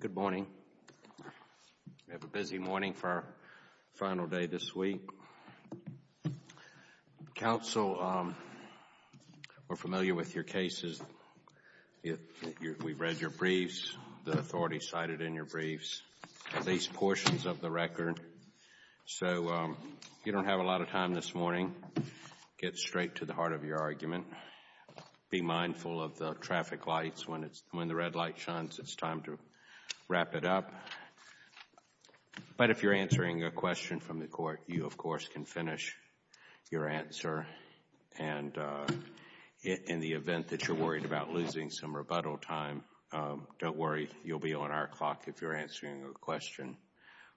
Good morning, we have a busy morning for our final day this week. Counsel, we're familiar with your cases, we've read your briefs, the authorities cited in your briefs, at least portions of the record, so if you don't have a lot of time this morning, get straight to the heart of your argument. Be mindful of the traffic lights, when the red light shines, it's time to wrap it up. But if you're answering a question from the court, you of course can finish your answer, and in the event that you're worried about losing some rebuttal time, don't worry, you'll be on our clock if you're answering a question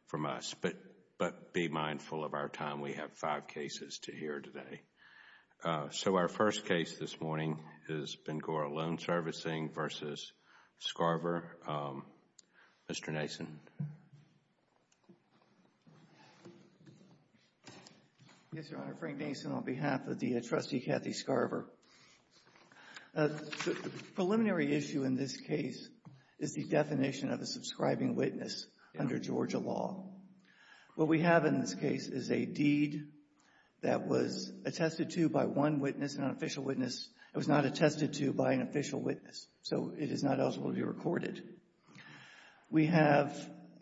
from us. But be mindful of our time, we have five cases to hear today. So our first case this morning is Ben-Gora Loan Servicing v. Scarver. Mr. Nason. Yes, Your Honor, Frank Nason on behalf of the trustee, Cathy Scarver. The preliminary issue in this case is the definition of a subscribing witness under Georgia law. What we have in this case is a deed that was attested to by one witness, an unofficial witness, it was not attested to by an official witness, so it is not eligible to be recorded. We have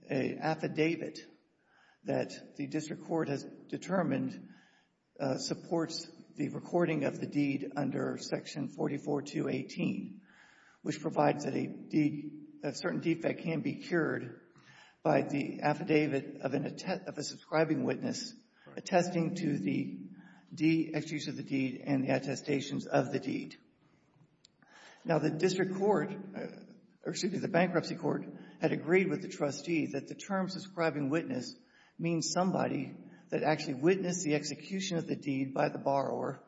an affidavit that the district court has determined supports the recording of the deed under section 44218, which provides that a certain defect can be cured by the affidavit of a subscribing witness attesting to the de-execution of the deed and the attestations of the deed. Now the district court, or excuse me, the bankruptcy court, had agreed with the trustee that the term subscribing witness means somebody that actually witnessed the execution of the deed by the borrower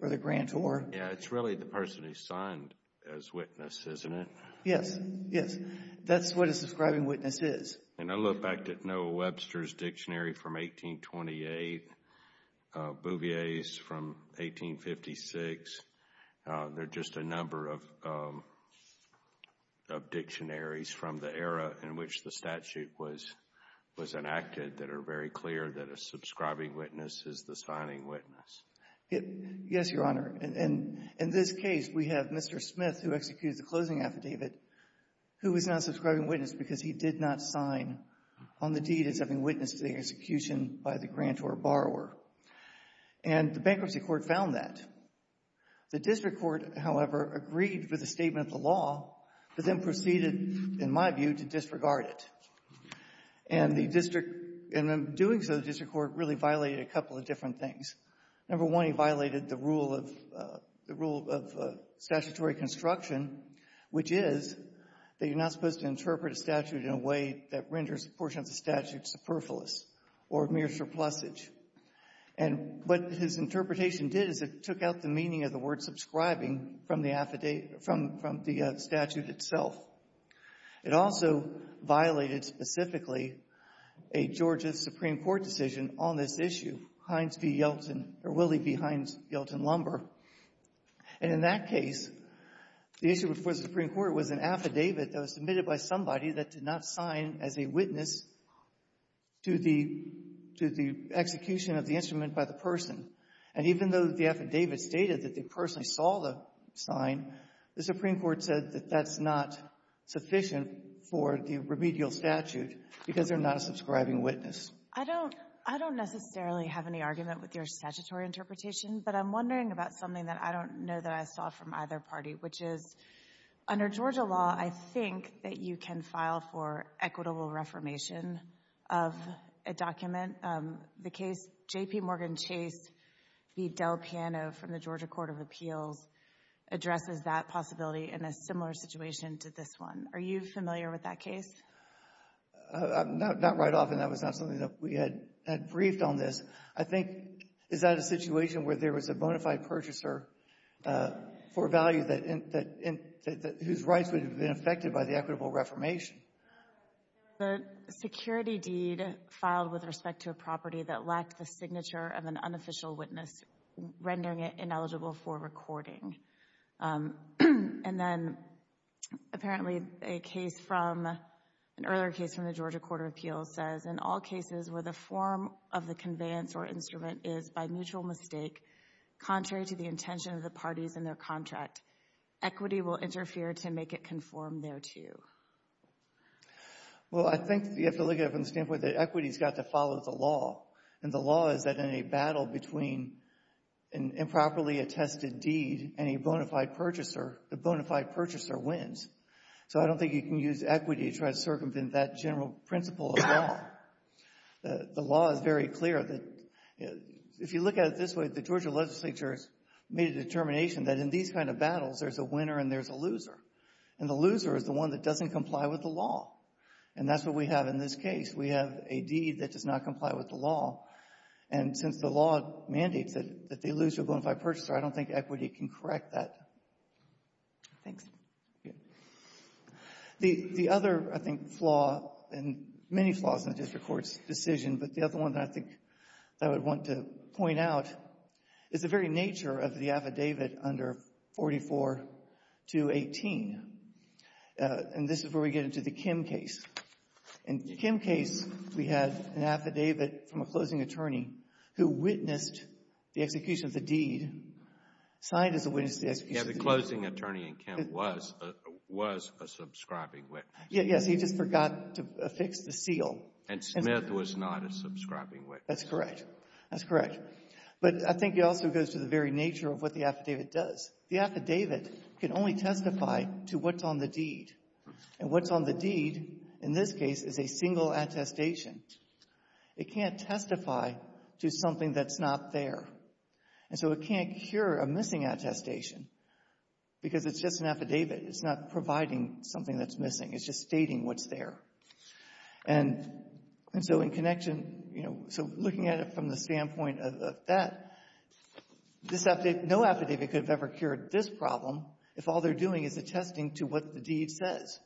or the grantor. Yes, it's really the person who signed as witness, isn't it? Yes, yes. That's what a subscribing witness is. And I look back at Noah Webster's dictionary from 1828, Bouvier's from 1856, there are just a number of dictionaries from the era in which the statute was enacted that are very clear that a subscribing witness is the signing witness. Yes, Your Honor. And in this case, we have Mr. Smith, who executed the closing affidavit, who is not a subscribing witness because he did not sign on the deed as having witnessed the execution by the grantor or borrower. And the bankruptcy court found that. The district court, however, agreed with the statement of the law, but then doing so, the district court really violated a couple of different things. Number one, he violated the rule of statutory construction, which is that you're not supposed to interpret a statute in a way that renders a portion of the statute superfluous or a mere surplusage. And what his interpretation did is it took out the meaning of the word subscribing from the statute itself. It also violated specifically a Georgia Supreme Court decision on this issue, Hinds v. Yeltsin, or Willie v. Hinds, Yeltsin Lumber. And in that case, the issue before the Supreme Court was an affidavit that was submitted by somebody that did not sign as a witness to the execution of the instrument by the person. And even though the affidavit stated that the person saw the sign, the Supreme Court said that that's not sufficient for the remedial statute because they're not a subscribing witness. I don't necessarily have any argument with your statutory interpretation, but I'm wondering about something that I don't know that I saw from either party, which is, under Georgia law, I think that you can file for equitable reformation of a document. The case J.P. Morgan Chase v. Del Piano from the Georgia Court of Appeals is a very similar situation to this one. Are you familiar with that case? Not right off, and that was not something that we had briefed on this. I think, is that a situation where there was a bona fide purchaser for value whose rights would have been affected by the equitable reformation? The security deed filed with respect to a property that lacked the signature of an Apparently, a case from, an earlier case from the Georgia Court of Appeals says, in all cases where the form of the conveyance or instrument is, by mutual mistake, contrary to the intention of the parties in their contract, equity will interfere to make it conform thereto. Well, I think you have to look at it from the standpoint that equity's got to follow the law. And the law is that in a battle between an improperly attested deed and a purchaser wins. So I don't think you can use equity to try to circumvent that general principle of law. The law is very clear that if you look at it this way, the Georgia legislature has made a determination that in these kind of battles, there's a winner and there's a loser. And the loser is the one that doesn't comply with the law. And that's what we have in this case. We have a deed that does not comply with the law. And since the law mandates that they lose to a bona fide purchaser, I don't think equity can correct that. Thanks. The other, I think, flaw and many flaws in the district court's decision, but the other one that I think I would want to point out is the very nature of the affidavit under 44-18. And this is where we get into the Kim case. In the Kim case, we had an affidavit signed as a witness to the execution of the deed. Yes. The closing attorney in Kim was a subscribing witness. Yes. He just forgot to affix the seal. And Smith was not a subscribing witness. That's correct. That's correct. But I think it also goes to the very nature of what the affidavit does. The affidavit can only testify to what's on the deed. And what's on the deed in this case is a single attestation. It can't testify to something that's not there. And so it can't cure a missing attestation because it's just an affidavit. It's not providing something that's missing. It's just stating what's there. And so in connection, so looking at it from the standpoint of that, no affidavit could have ever cured this problem if all they're doing is attesting to what the deed says.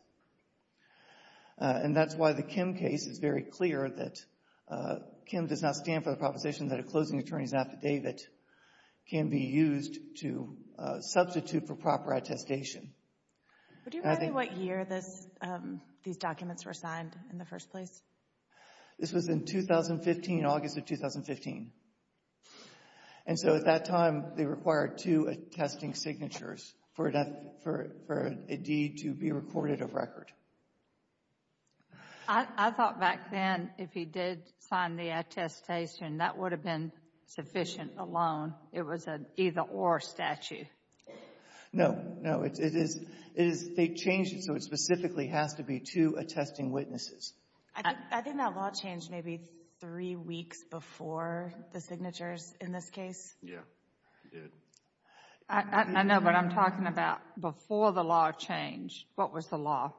And that's why the Kim case is very clear that Kim does not stand for the proposition that a closing attorney's affidavit can be used to substitute for proper attestation. Do you remember what year these documents were signed in the first place? This was in 2015, August of 2015. And so at that time, they required two attesting signatures for a deed to be recorded of record. I thought back then if he did sign the attestation, that would have been sufficient alone. It was an either-or statute. No, no. It is, they changed it so it specifically has to be two attesting witnesses. I think that law changed maybe three weeks before the signatures in this case. Yeah, it did. I know, but I'm talking about before the law changed. What was the law?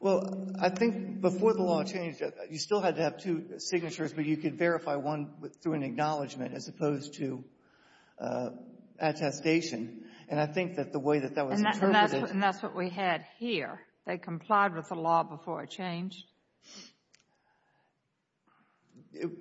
Well, I think before the law changed, you still had to have two signatures, but you could verify one through an acknowledgment as opposed to attestation. And I think that the way that that was interpreted — And that's what we had here. They complied with the law before it changed.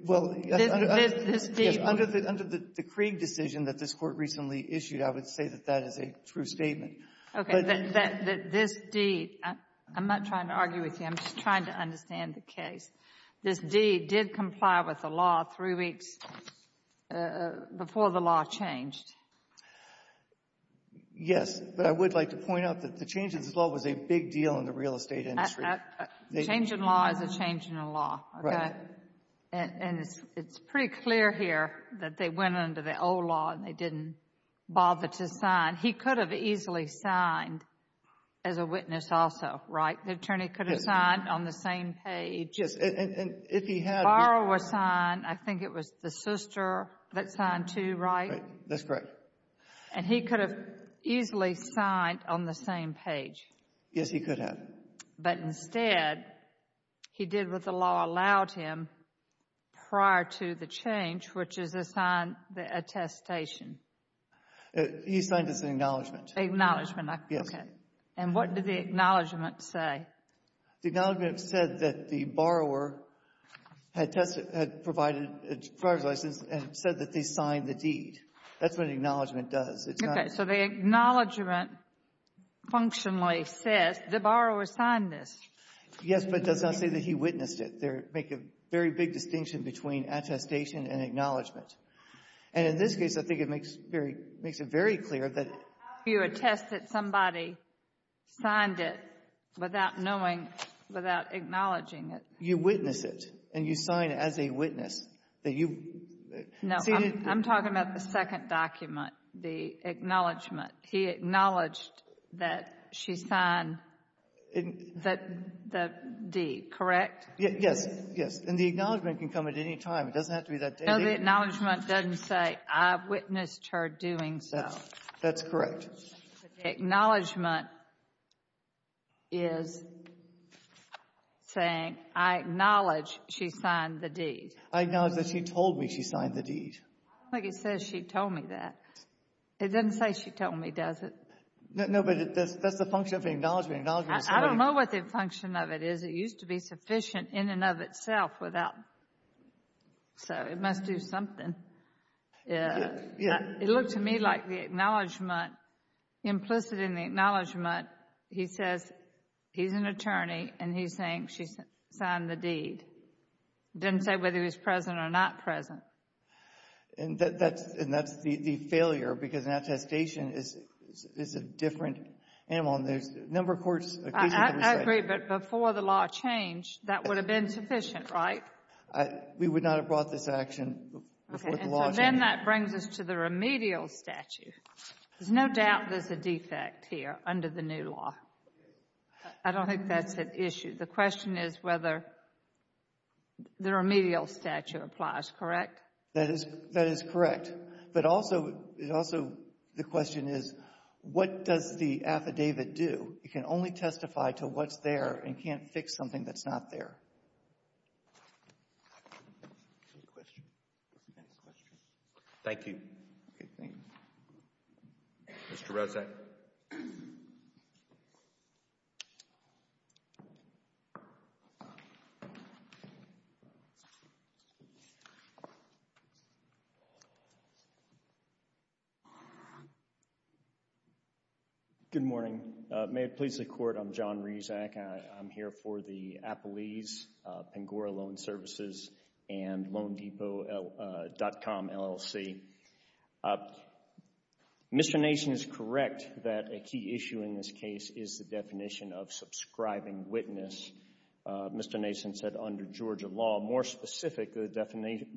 Well, under the — This deed — Yes, under the — under the Krieg decision that this Court recently issued, I would say that that is a true statement. Okay, that this deed — I'm not trying to argue with you. I'm just trying to understand the case. This deed did comply with the law three weeks before the law changed. Yes, but I would like to point out that the change of this law was a big deal in the real estate industry. Change in law is a change in the law, okay? Right. And it's pretty clear here that they went under the old law and they didn't bother to sign. He could have easily signed as a witness also, right? The attorney could have signed on the same page. Yes, and if he had — Borrow a sign. I think it was the sister that signed, too, right? Right. That's correct. And he could have easily signed on the same page. Yes, he could have. But instead, he did what the law allowed him prior to the change, which is assign the attestation. He signed as an acknowledgment. Acknowledgment, okay. Yes. And what did the acknowledgment say? The acknowledgment said that the borrower had provided a borrower's license and said that they signed the deed. That's what an acknowledgment does. Okay, so the acknowledgment functionally says the borrower signed this. Yes, but it does not say that he witnessed it. They make a very big distinction between attestation and acknowledgment. And in this case, I think it makes it very clear that — How do you attest that somebody signed it without knowing, without acknowledging it? You witness it, and you sign as a witness. That you've seen it. No, I'm talking about the second document, the acknowledgment. He acknowledged that she signed the deed, correct? Yes, yes. And the acknowledgment can come at any time. It doesn't have to be that day. No, the acknowledgment doesn't say, I witnessed her doing so. That's correct. Acknowledgment is saying, I acknowledge she signed the deed. I acknowledge that she told me she signed the deed. I don't think it says she told me that. It doesn't say she told me, does it? No, but that's the function of the acknowledgment. I don't know what the function of it is. It used to be sufficient in and of itself without. So it must do something. Yeah, yeah. It looked to me like the acknowledgment, implicit in the acknowledgment, he says he's an attorney, and he's saying she signed the deed. It doesn't say whether he was present or not present. And that's the failure, because an attestation is a different animal. And there's a number of courts. I agree, but before the law changed, that would have been sufficient, right? We would not have brought this action before the law changed. And so then that brings us to the remedial statute. There's no doubt there's a defect here under the new law. I don't think that's an issue. The question is whether the remedial statute applies, correct? That is correct. But also, the question is, what does the affidavit do? It can only testify to what's there and can't fix something that's not there. Thank you. Mr. Rosak. Good morning. May it please the Court, I'm John Rosak. I'm here for the Appalese Pangora Loan Services and LoanDepot.com LLC. Mr. Nation is correct that a key issue in this case is the definition of subscribing witness. Mr. Nation said under Georgia law, more specific, the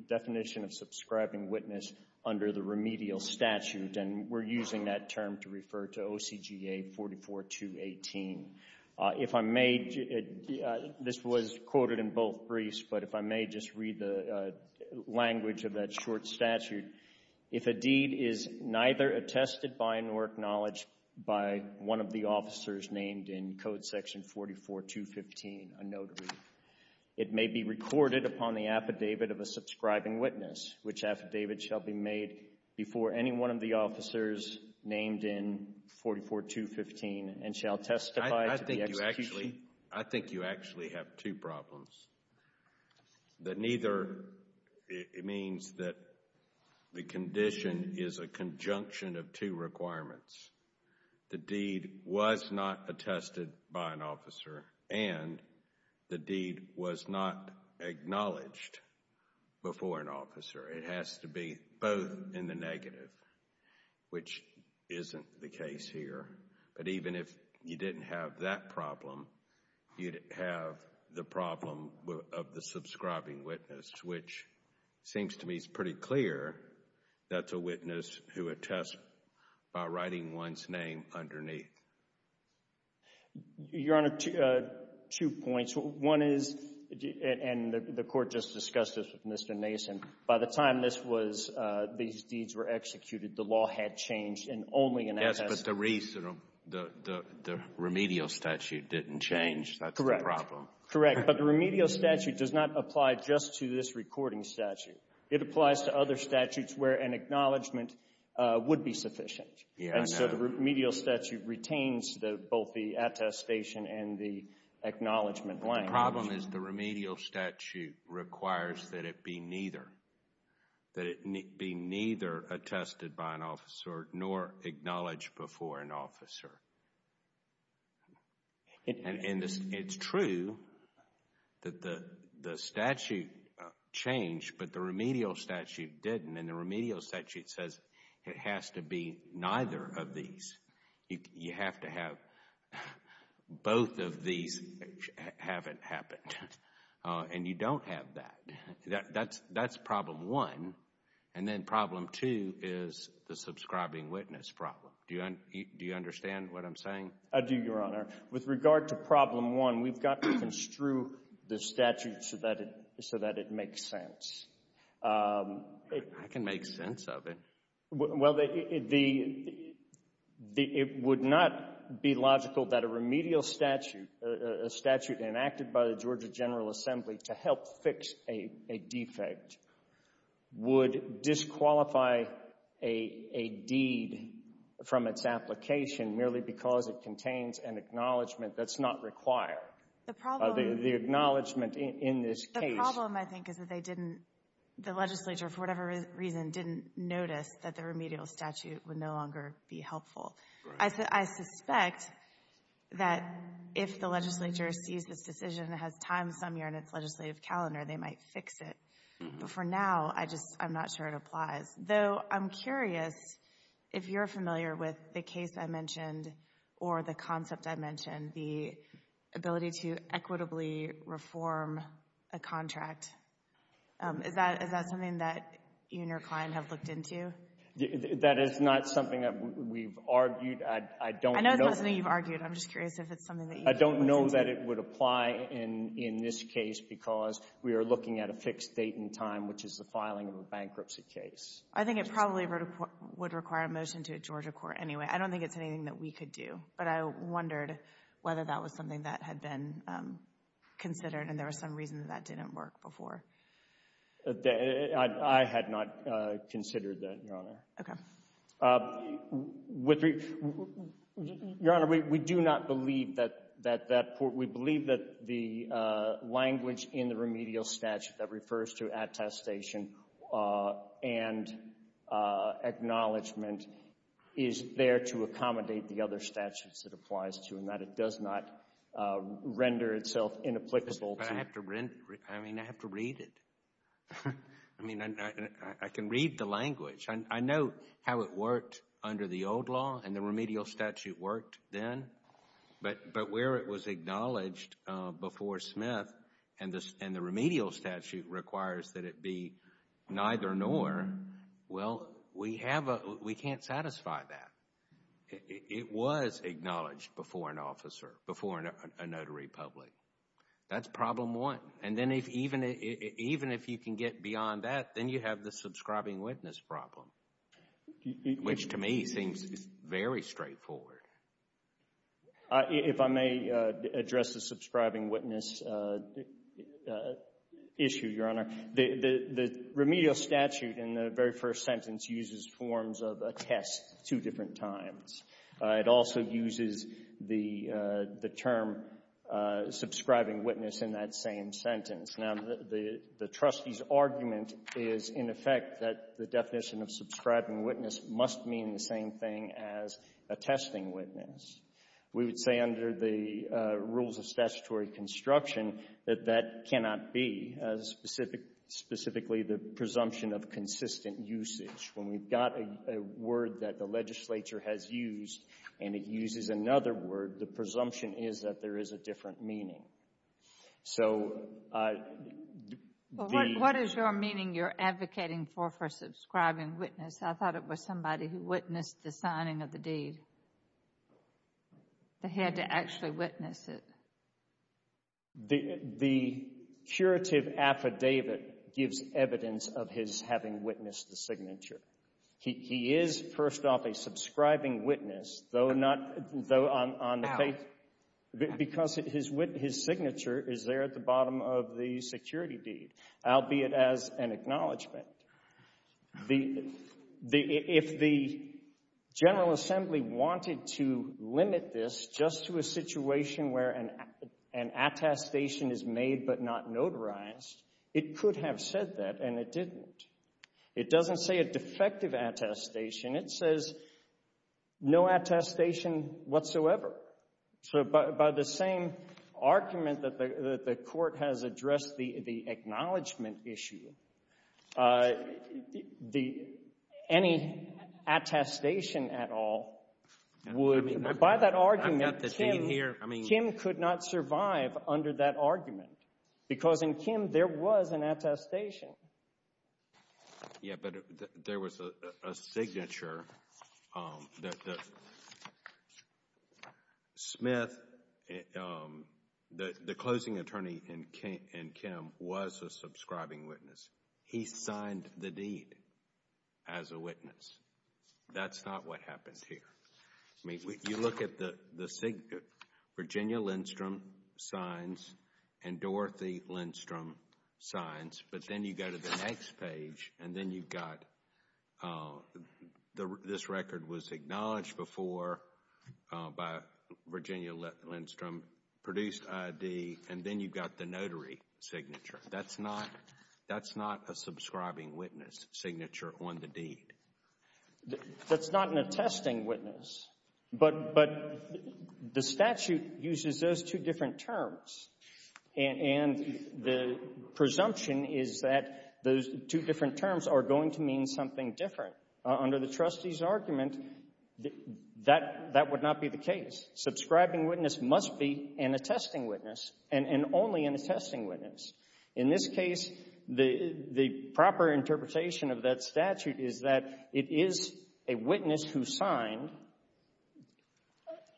definition of subscribing witness under the remedial statute. And we're using that term to refer to OCGA 44218. If I may, this was quoted in both briefs, but if I may just read the language of that short statute. If a deed is neither attested by nor acknowledged by one of the officers named in Code Section 44215, a notary, it may be recorded upon the affidavit of a subscribing witness, which affidavit shall be made before any one of the officers named in 44215 and shall testify to the execution. I think you actually have two problems. That neither, it means that the condition is a conjunction of two requirements. The deed was not attested by an officer and the deed was not acknowledged before an officer. It has to be both in the negative, which isn't the case here. But even if you didn't have that problem, you'd have the problem of the subscribing witness, which seems to me is pretty clear. That's a witness who attests by writing one's name underneath. Your Honor, two points. One is, and the Court just discussed this with Mr. Nation, by the time this was, these deeds were executed, the law had changed and only an attest. Yes, but the remedial statute didn't change. That's the problem. Correct. But the remedial statute does not apply just to this recording statute. It applies to other statutes where an acknowledgement would be sufficient. And so the remedial statute retains both the attestation and the acknowledgement line. And it's true that the statute changed, but the remedial statute didn't. And the remedial statute says it has to be neither of these. You have to have both of these haven't happened. And you don't have that. That's problem one. And then problem two is the subscribing witness problem. Do you understand what I'm saying? I do, Your Honor. With regard to problem one, we've got to construe the statute so that it makes sense. I can make sense of it. Well, it would not be logical that a remedial statute, a statute enacted by the Georgia General Assembly to help fix a defect, would disqualify a deed from its application merely because it contains an acknowledgement that's not required. The problem — The acknowledgement in this case — The problem, I think, is that they didn't — the legislature, for whatever reason, didn't notice that the remedial statute would no longer be helpful. Right. I suspect that if the legislature sees this decision has time some year in its legislative calendar, they might fix it. But for now, I just — I'm not sure it applies. Though I'm curious if you're familiar with the case I mentioned or the concept I mentioned, the ability to equitably reform a contract. Is that something that you and your client have looked into? That is not something that we've argued. I don't know — I know it's not something you've argued. I'm just curious if it's something that you've listened to. I don't know that it would apply in this case because we are looking at a fixed date and time, which is the filing of a bankruptcy case. I think it probably would require a motion to a Georgia court anyway. I don't think it's anything that we could do, but I wondered whether that was something that had been considered and there was some reason that that didn't work before. That — I had not considered that, Your Honor. Okay. With — Your Honor, we do not believe that that — we believe that the language in the remedial statute that refers to attestation and acknowledgement is there to accommodate the other statutes it applies to and that it does not render itself inapplicable to — I mean, I have to read it. I mean, I can read the language. I know how it worked under the old law and the remedial statute worked then, but where it was acknowledged before Smith and the remedial statute requires that it be neither-nor, well, we have a — we can't satisfy that. It was acknowledged before an officer, before a notary public. That's problem one. And then if — even if you can get beyond that, then you have the subscribing witness problem, which to me seems very straightforward. If I may address the subscribing witness issue, Your Honor, the remedial statute in the very first sentence uses forms of attest two different times. It also uses the term subscribing witness in that same sentence. Now, the trustee's argument is, in effect, that the definition of subscribing witness must mean the same thing as attesting witness. We would say under the rules of statutory construction that that cannot be, specifically the presumption of consistent usage. When we've got a word that the legislature has used and it uses another word, the presumption is that there is a different meaning. So the — What is your meaning you're advocating for for subscribing witness? I thought it was somebody who witnessed the signing of the deed. They had to actually witness it. The curative affidavit gives evidence of his having witnessed the signature. He is, first off, a subscribing witness, though not — though on — How? Because his signature is there at the bottom of the security deed, albeit as an acknowledgement. The — If the General Assembly wanted to limit this just to a situation where an attestation is made but not notarized, it could have said that, and it didn't. It doesn't say a defective attestation. It says no attestation whatsoever. So by the same argument that the Court has addressed the acknowledgement issue, any attestation at all would — By that argument, Kim could not survive under that argument. Because in Kim, there was an attestation. Yeah, but there was a signature. Smith, the closing attorney in Kim, was a subscribing witness. He signed the deed as a witness. That's not what happened here. I mean, you look at the Virginia Lindstrom signs and Dorothy Lindstrom signs, but then you go to the next page and then you've got this record was acknowledged before by Virginia Lindstrom, produced I.D., and then you've got the notary signature. That's not — that's not a subscribing witness signature on the deed. That's not an attesting witness, but the statute uses those two different terms, and the presumption is that those two different terms are going to mean something different. Under the trustee's argument, that would not be the case. Subscribing witness must be an attesting witness and only an attesting witness. In this case, the proper interpretation of that statute is that it is a witness who signed.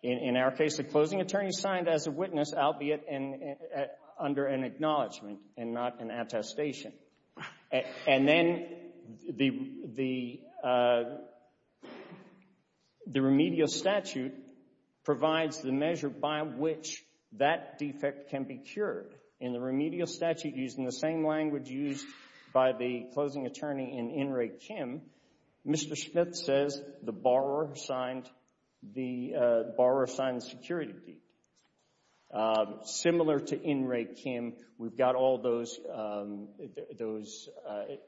In our case, the closing attorney signed as a witness, albeit under an acknowledgement and not an attestation. And then the remedial statute provides the measure by which that defect can be cured. In the remedial statute, using the same language used by the closing attorney in In Re Kim, Mr. Smith says the borrower signed — the borrower signed the security deed. Similar to In Re Kim, we've got all those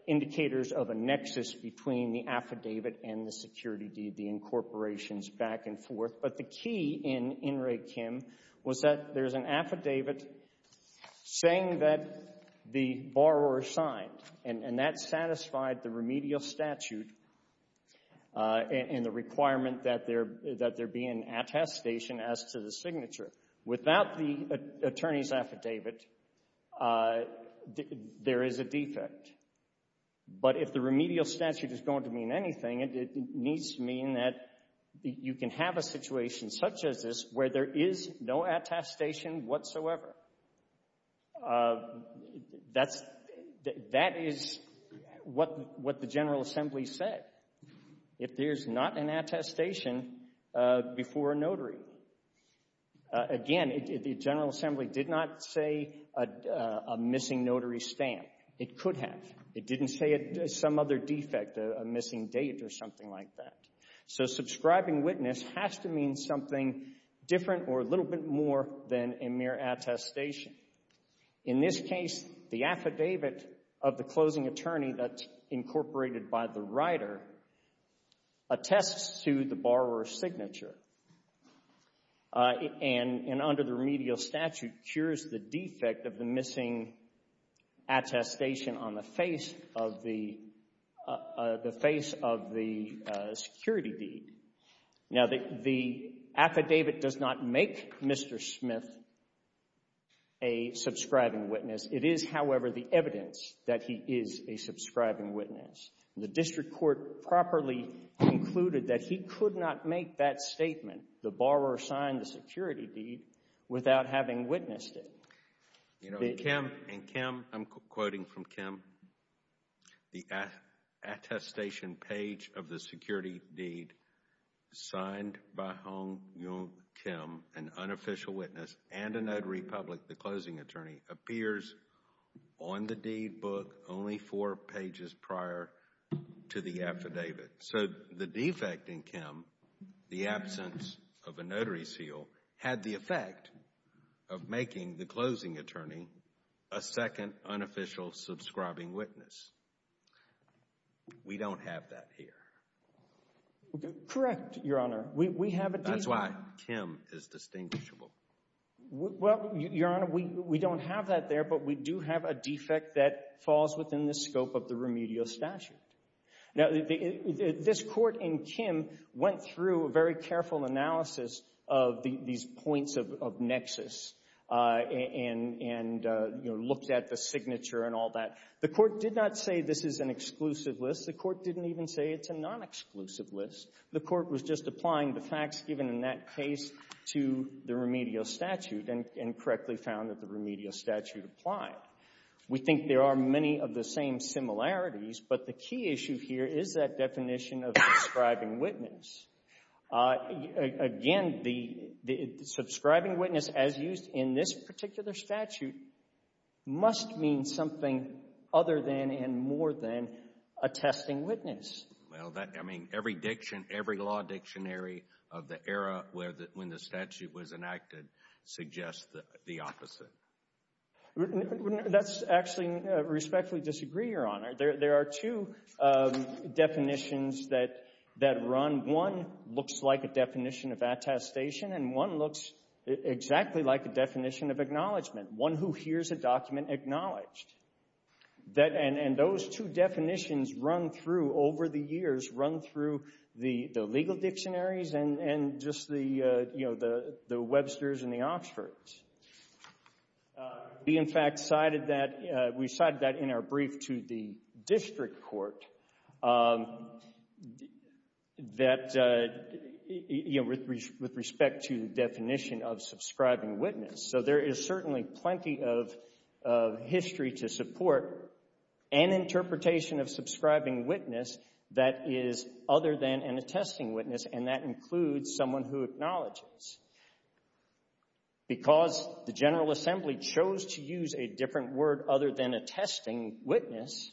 indicators of a nexus between the affidavit and the security deed, the incorporations back and forth. But the key in In Re Kim was that there's an affidavit saying that the borrower signed, and that satisfied the remedial statute and the requirement that there be an attestation as to the signature. Without the attorney's affidavit, there is a defect. But if the remedial statute is going to mean anything, it needs to mean that you can have a situation such as this where there is no attestation whatsoever. That's — that is what the General Assembly said. If there's not an attestation before a notary. Again, the General Assembly did not say a missing notary stamp. It could have. It didn't say some other defect, a missing date or something like that. So subscribing witness has to mean something different or a little bit more than a mere attestation. In this case, the affidavit of the closing attorney that's incorporated by the writer attests to the borrower's signature and under the remedial statute cures the defect of the missing attestation on the face of the — the face of the security deed. Now, the affidavit does not make Mr. Smith a subscribing witness. It is, however, the evidence that he is a subscribing witness. The district court properly concluded that he could not make that statement, the borrower signed the security deed, without having witnessed it. You know, Kim — and Kim — I'm quoting from Kim. The attestation page of the security deed signed by Hong Yong Kim, an unofficial witness and a notary public, the closing attorney, appears on the deed book only four pages prior to the affidavit. So the defect in Kim, the absence of a notary seal, had the effect of making the closing attorney a second unofficial subscribing witness. We don't have that here. Correct, Your Honor. We have a — That's why Kim is distinguishable. Well, Your Honor, we don't have that there, but we do have a defect that falls within the scope of the remedial statute. Now, this Court in Kim went through a very careful analysis of these points of nexus and, you know, looked at the signature and all that. The Court did not say this is an exclusive list. The Court didn't even say it's a non-exclusive list. The Court was just applying the facts given in that case to the remedial statute and correctly found that the remedial statute applied. We think there are many of the same similarities, but the key issue here is that definition of subscribing witness. Again, the subscribing witness as used in this particular statute must mean something other than and more than a testing witness. Well, that — I mean, every diction, every law dictionary of the era where the — when the statute was enacted suggests the opposite. We — that's actually respectfully disagree, Your Honor. There are two definitions that run. One looks like a definition of attestation, and one looks exactly like a definition of acknowledgment, one who hears a document acknowledged. That — and those two definitions run through over the years, run through the legal dictionaries and just the, you know, the Websters and the Oxfords. We, in fact, cited that — we cited that in our brief to the District Court that, you know, with respect to definition of subscribing witness. So there is certainly plenty of history to support an interpretation of subscribing witness that is other than an attesting witness, and that includes someone who acknowledges. Because the General Assembly chose to use a different word other than attesting witness,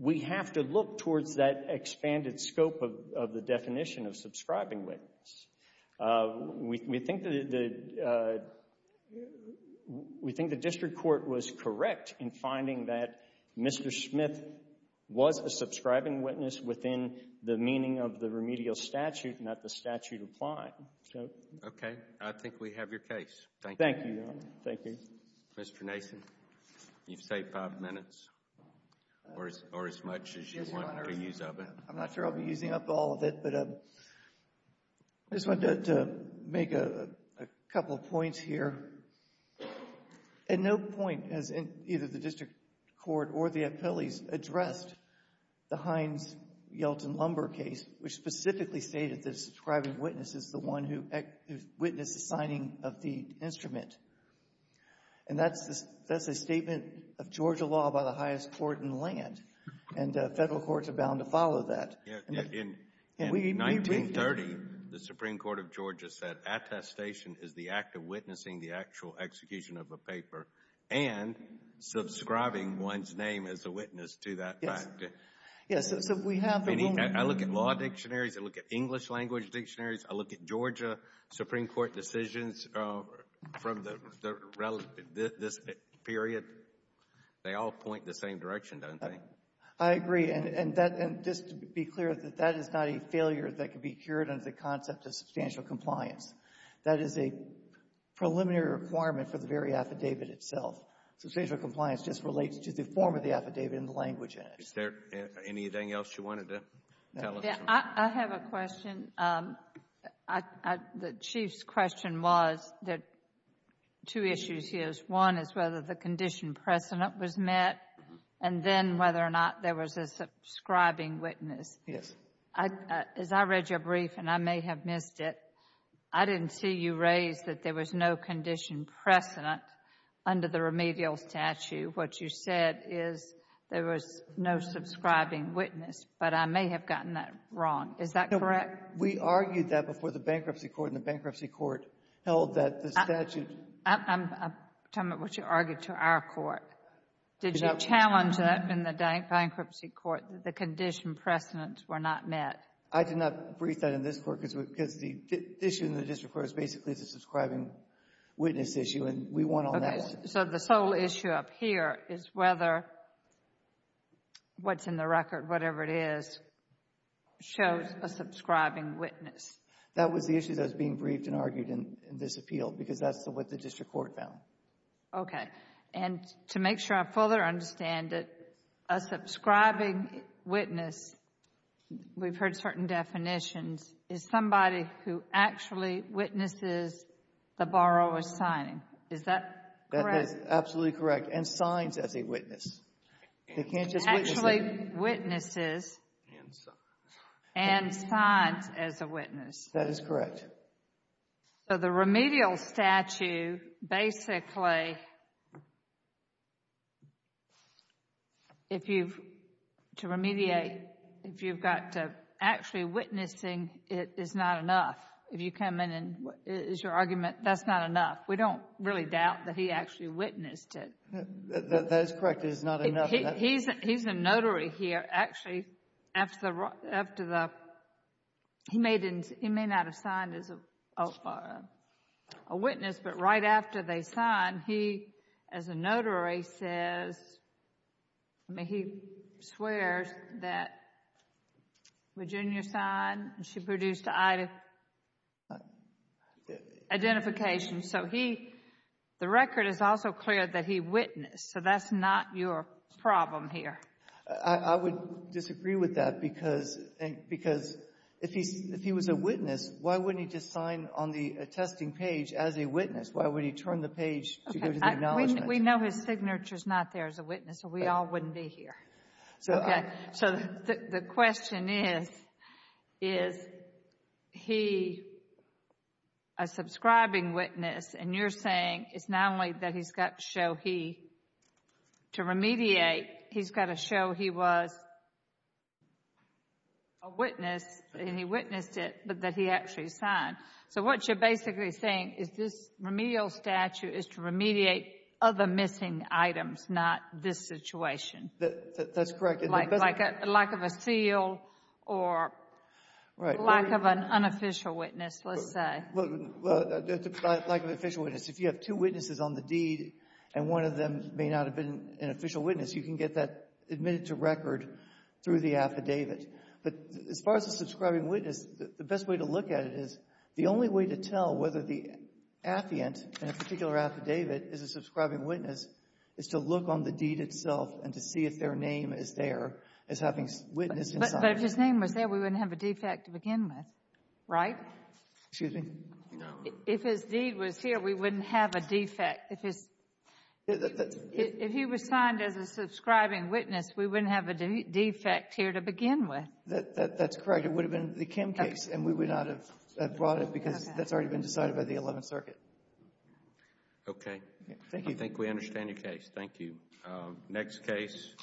we have to look towards that expanded scope of the definition of subscribing witness. We think that the — we think the District Court was correct in finding that Mr. Smith was a subscribing witness within the meaning of the remedial statute, not the statute applying. So — Okay. I think we have your case. Thank you. Thank you, Your Honor. Thank you. Mr. Nason, you've saved five minutes or as much as you want to use of it. I'm not sure I'll be using up all of it, but I just wanted to make a couple of points here. At no point has either the District Court or the appellees addressed the Hines-Yeltsin-Lumber case, which specifically stated that a subscribing witness is the one who witnessed the signing of the instrument. And that's a statement of Georgia law by the highest court in the land, and Federal courts are bound to follow that. Yeah. In 1930, the Supreme Court of Georgia said attestation is the act of witnessing the actual execution of a paper and subscribing one's name as a witness to that fact. Yes. Yes. I look at law dictionaries. I look at English language dictionaries. I look at Georgia Supreme Court decisions from this period. They all point the same direction, don't they? I agree. And just to be clear, that is not a failure that can be cured under the concept of substantial compliance. That is a preliminary requirement for the very affidavit itself. Substantial compliance just relates to the form of the affidavit and the language in it. Anything else you wanted to tell us? I have a question. The Chief's question was, there are two issues here. One is whether the condition precedent was met, and then whether or not there was a subscribing witness. Yes. As I read your brief, and I may have missed it, I didn't see you raise that there was no condition precedent under the remedial statute. What you said is there was no subscribing witness, but I may have gotten that wrong. Is that correct? We argued that before the bankruptcy court and the bankruptcy court held that the statute... I'm talking about what you argued to our court. Did you challenge that in the bankruptcy court that the condition precedents were not met? I did not brief that in this court because the issue in the district court is basically the subscribing witness issue, and we went on that one. So the sole issue up here is whether what's in the record, whatever it is, shows a subscribing witness. That was the issue that was being briefed and argued in this appeal because that's what the district court found. Okay. And to make sure I fully understand it, a subscribing witness, we've heard certain definitions, is somebody who actually witnesses the borrower's signing. Is that correct? That is absolutely correct, and signs as a witness. They can't just witness it. Actually witnesses and signs as a witness. That is correct. So the remedial statute basically, to remediate, if you've got to actually witnessing it is not enough. If you come in and it's your argument, that's not enough. We don't really doubt that he actually witnessed it. That is correct. It is not enough. He's a notary here. Actually, after the, he may not have signed as a witness, but right after they sign, he as a notary says, I mean, he swears that Virginia signed and she produced identification. Identification. So he, the record is also clear that he witnessed. So that's not your problem here. I would disagree with that because if he was a witness, why wouldn't he just sign on the attesting page as a witness? Why would he turn the page to go to the acknowledgement? We know his signature is not there as a witness, so we all wouldn't be here. Okay. So the question is, is he a subscribing witness? And you're saying it's not only that he's got to show he, to remediate, he's got to show he was a witness and he witnessed it, but that he actually signed. So what you're basically saying is this remedial statute is to remediate other missing items, not this situation. That's correct. Like a lack of a seal or lack of an unofficial witness, let's say. Lack of an official witness. If you have two witnesses on the deed and one of them may not have been an official witness, you can get that admitted to record through the affidavit. But as far as a subscribing witness, the best way to look at it is the only way to tell whether the affiant in a particular affidavit is a subscribing witness is to look on the affidavit and see if their name is there as having witnessed and signed. But if his name was there, we wouldn't have a defect to begin with, right? Excuse me? No. If his deed was here, we wouldn't have a defect. If his — if he was signed as a subscribing witness, we wouldn't have a defect here to begin with. That's correct. It would have been the Kim case, and we would not have brought it because that's already been decided by the Eleventh Circuit. Okay. Thank you. I think we understand your case. Thank you. Next case.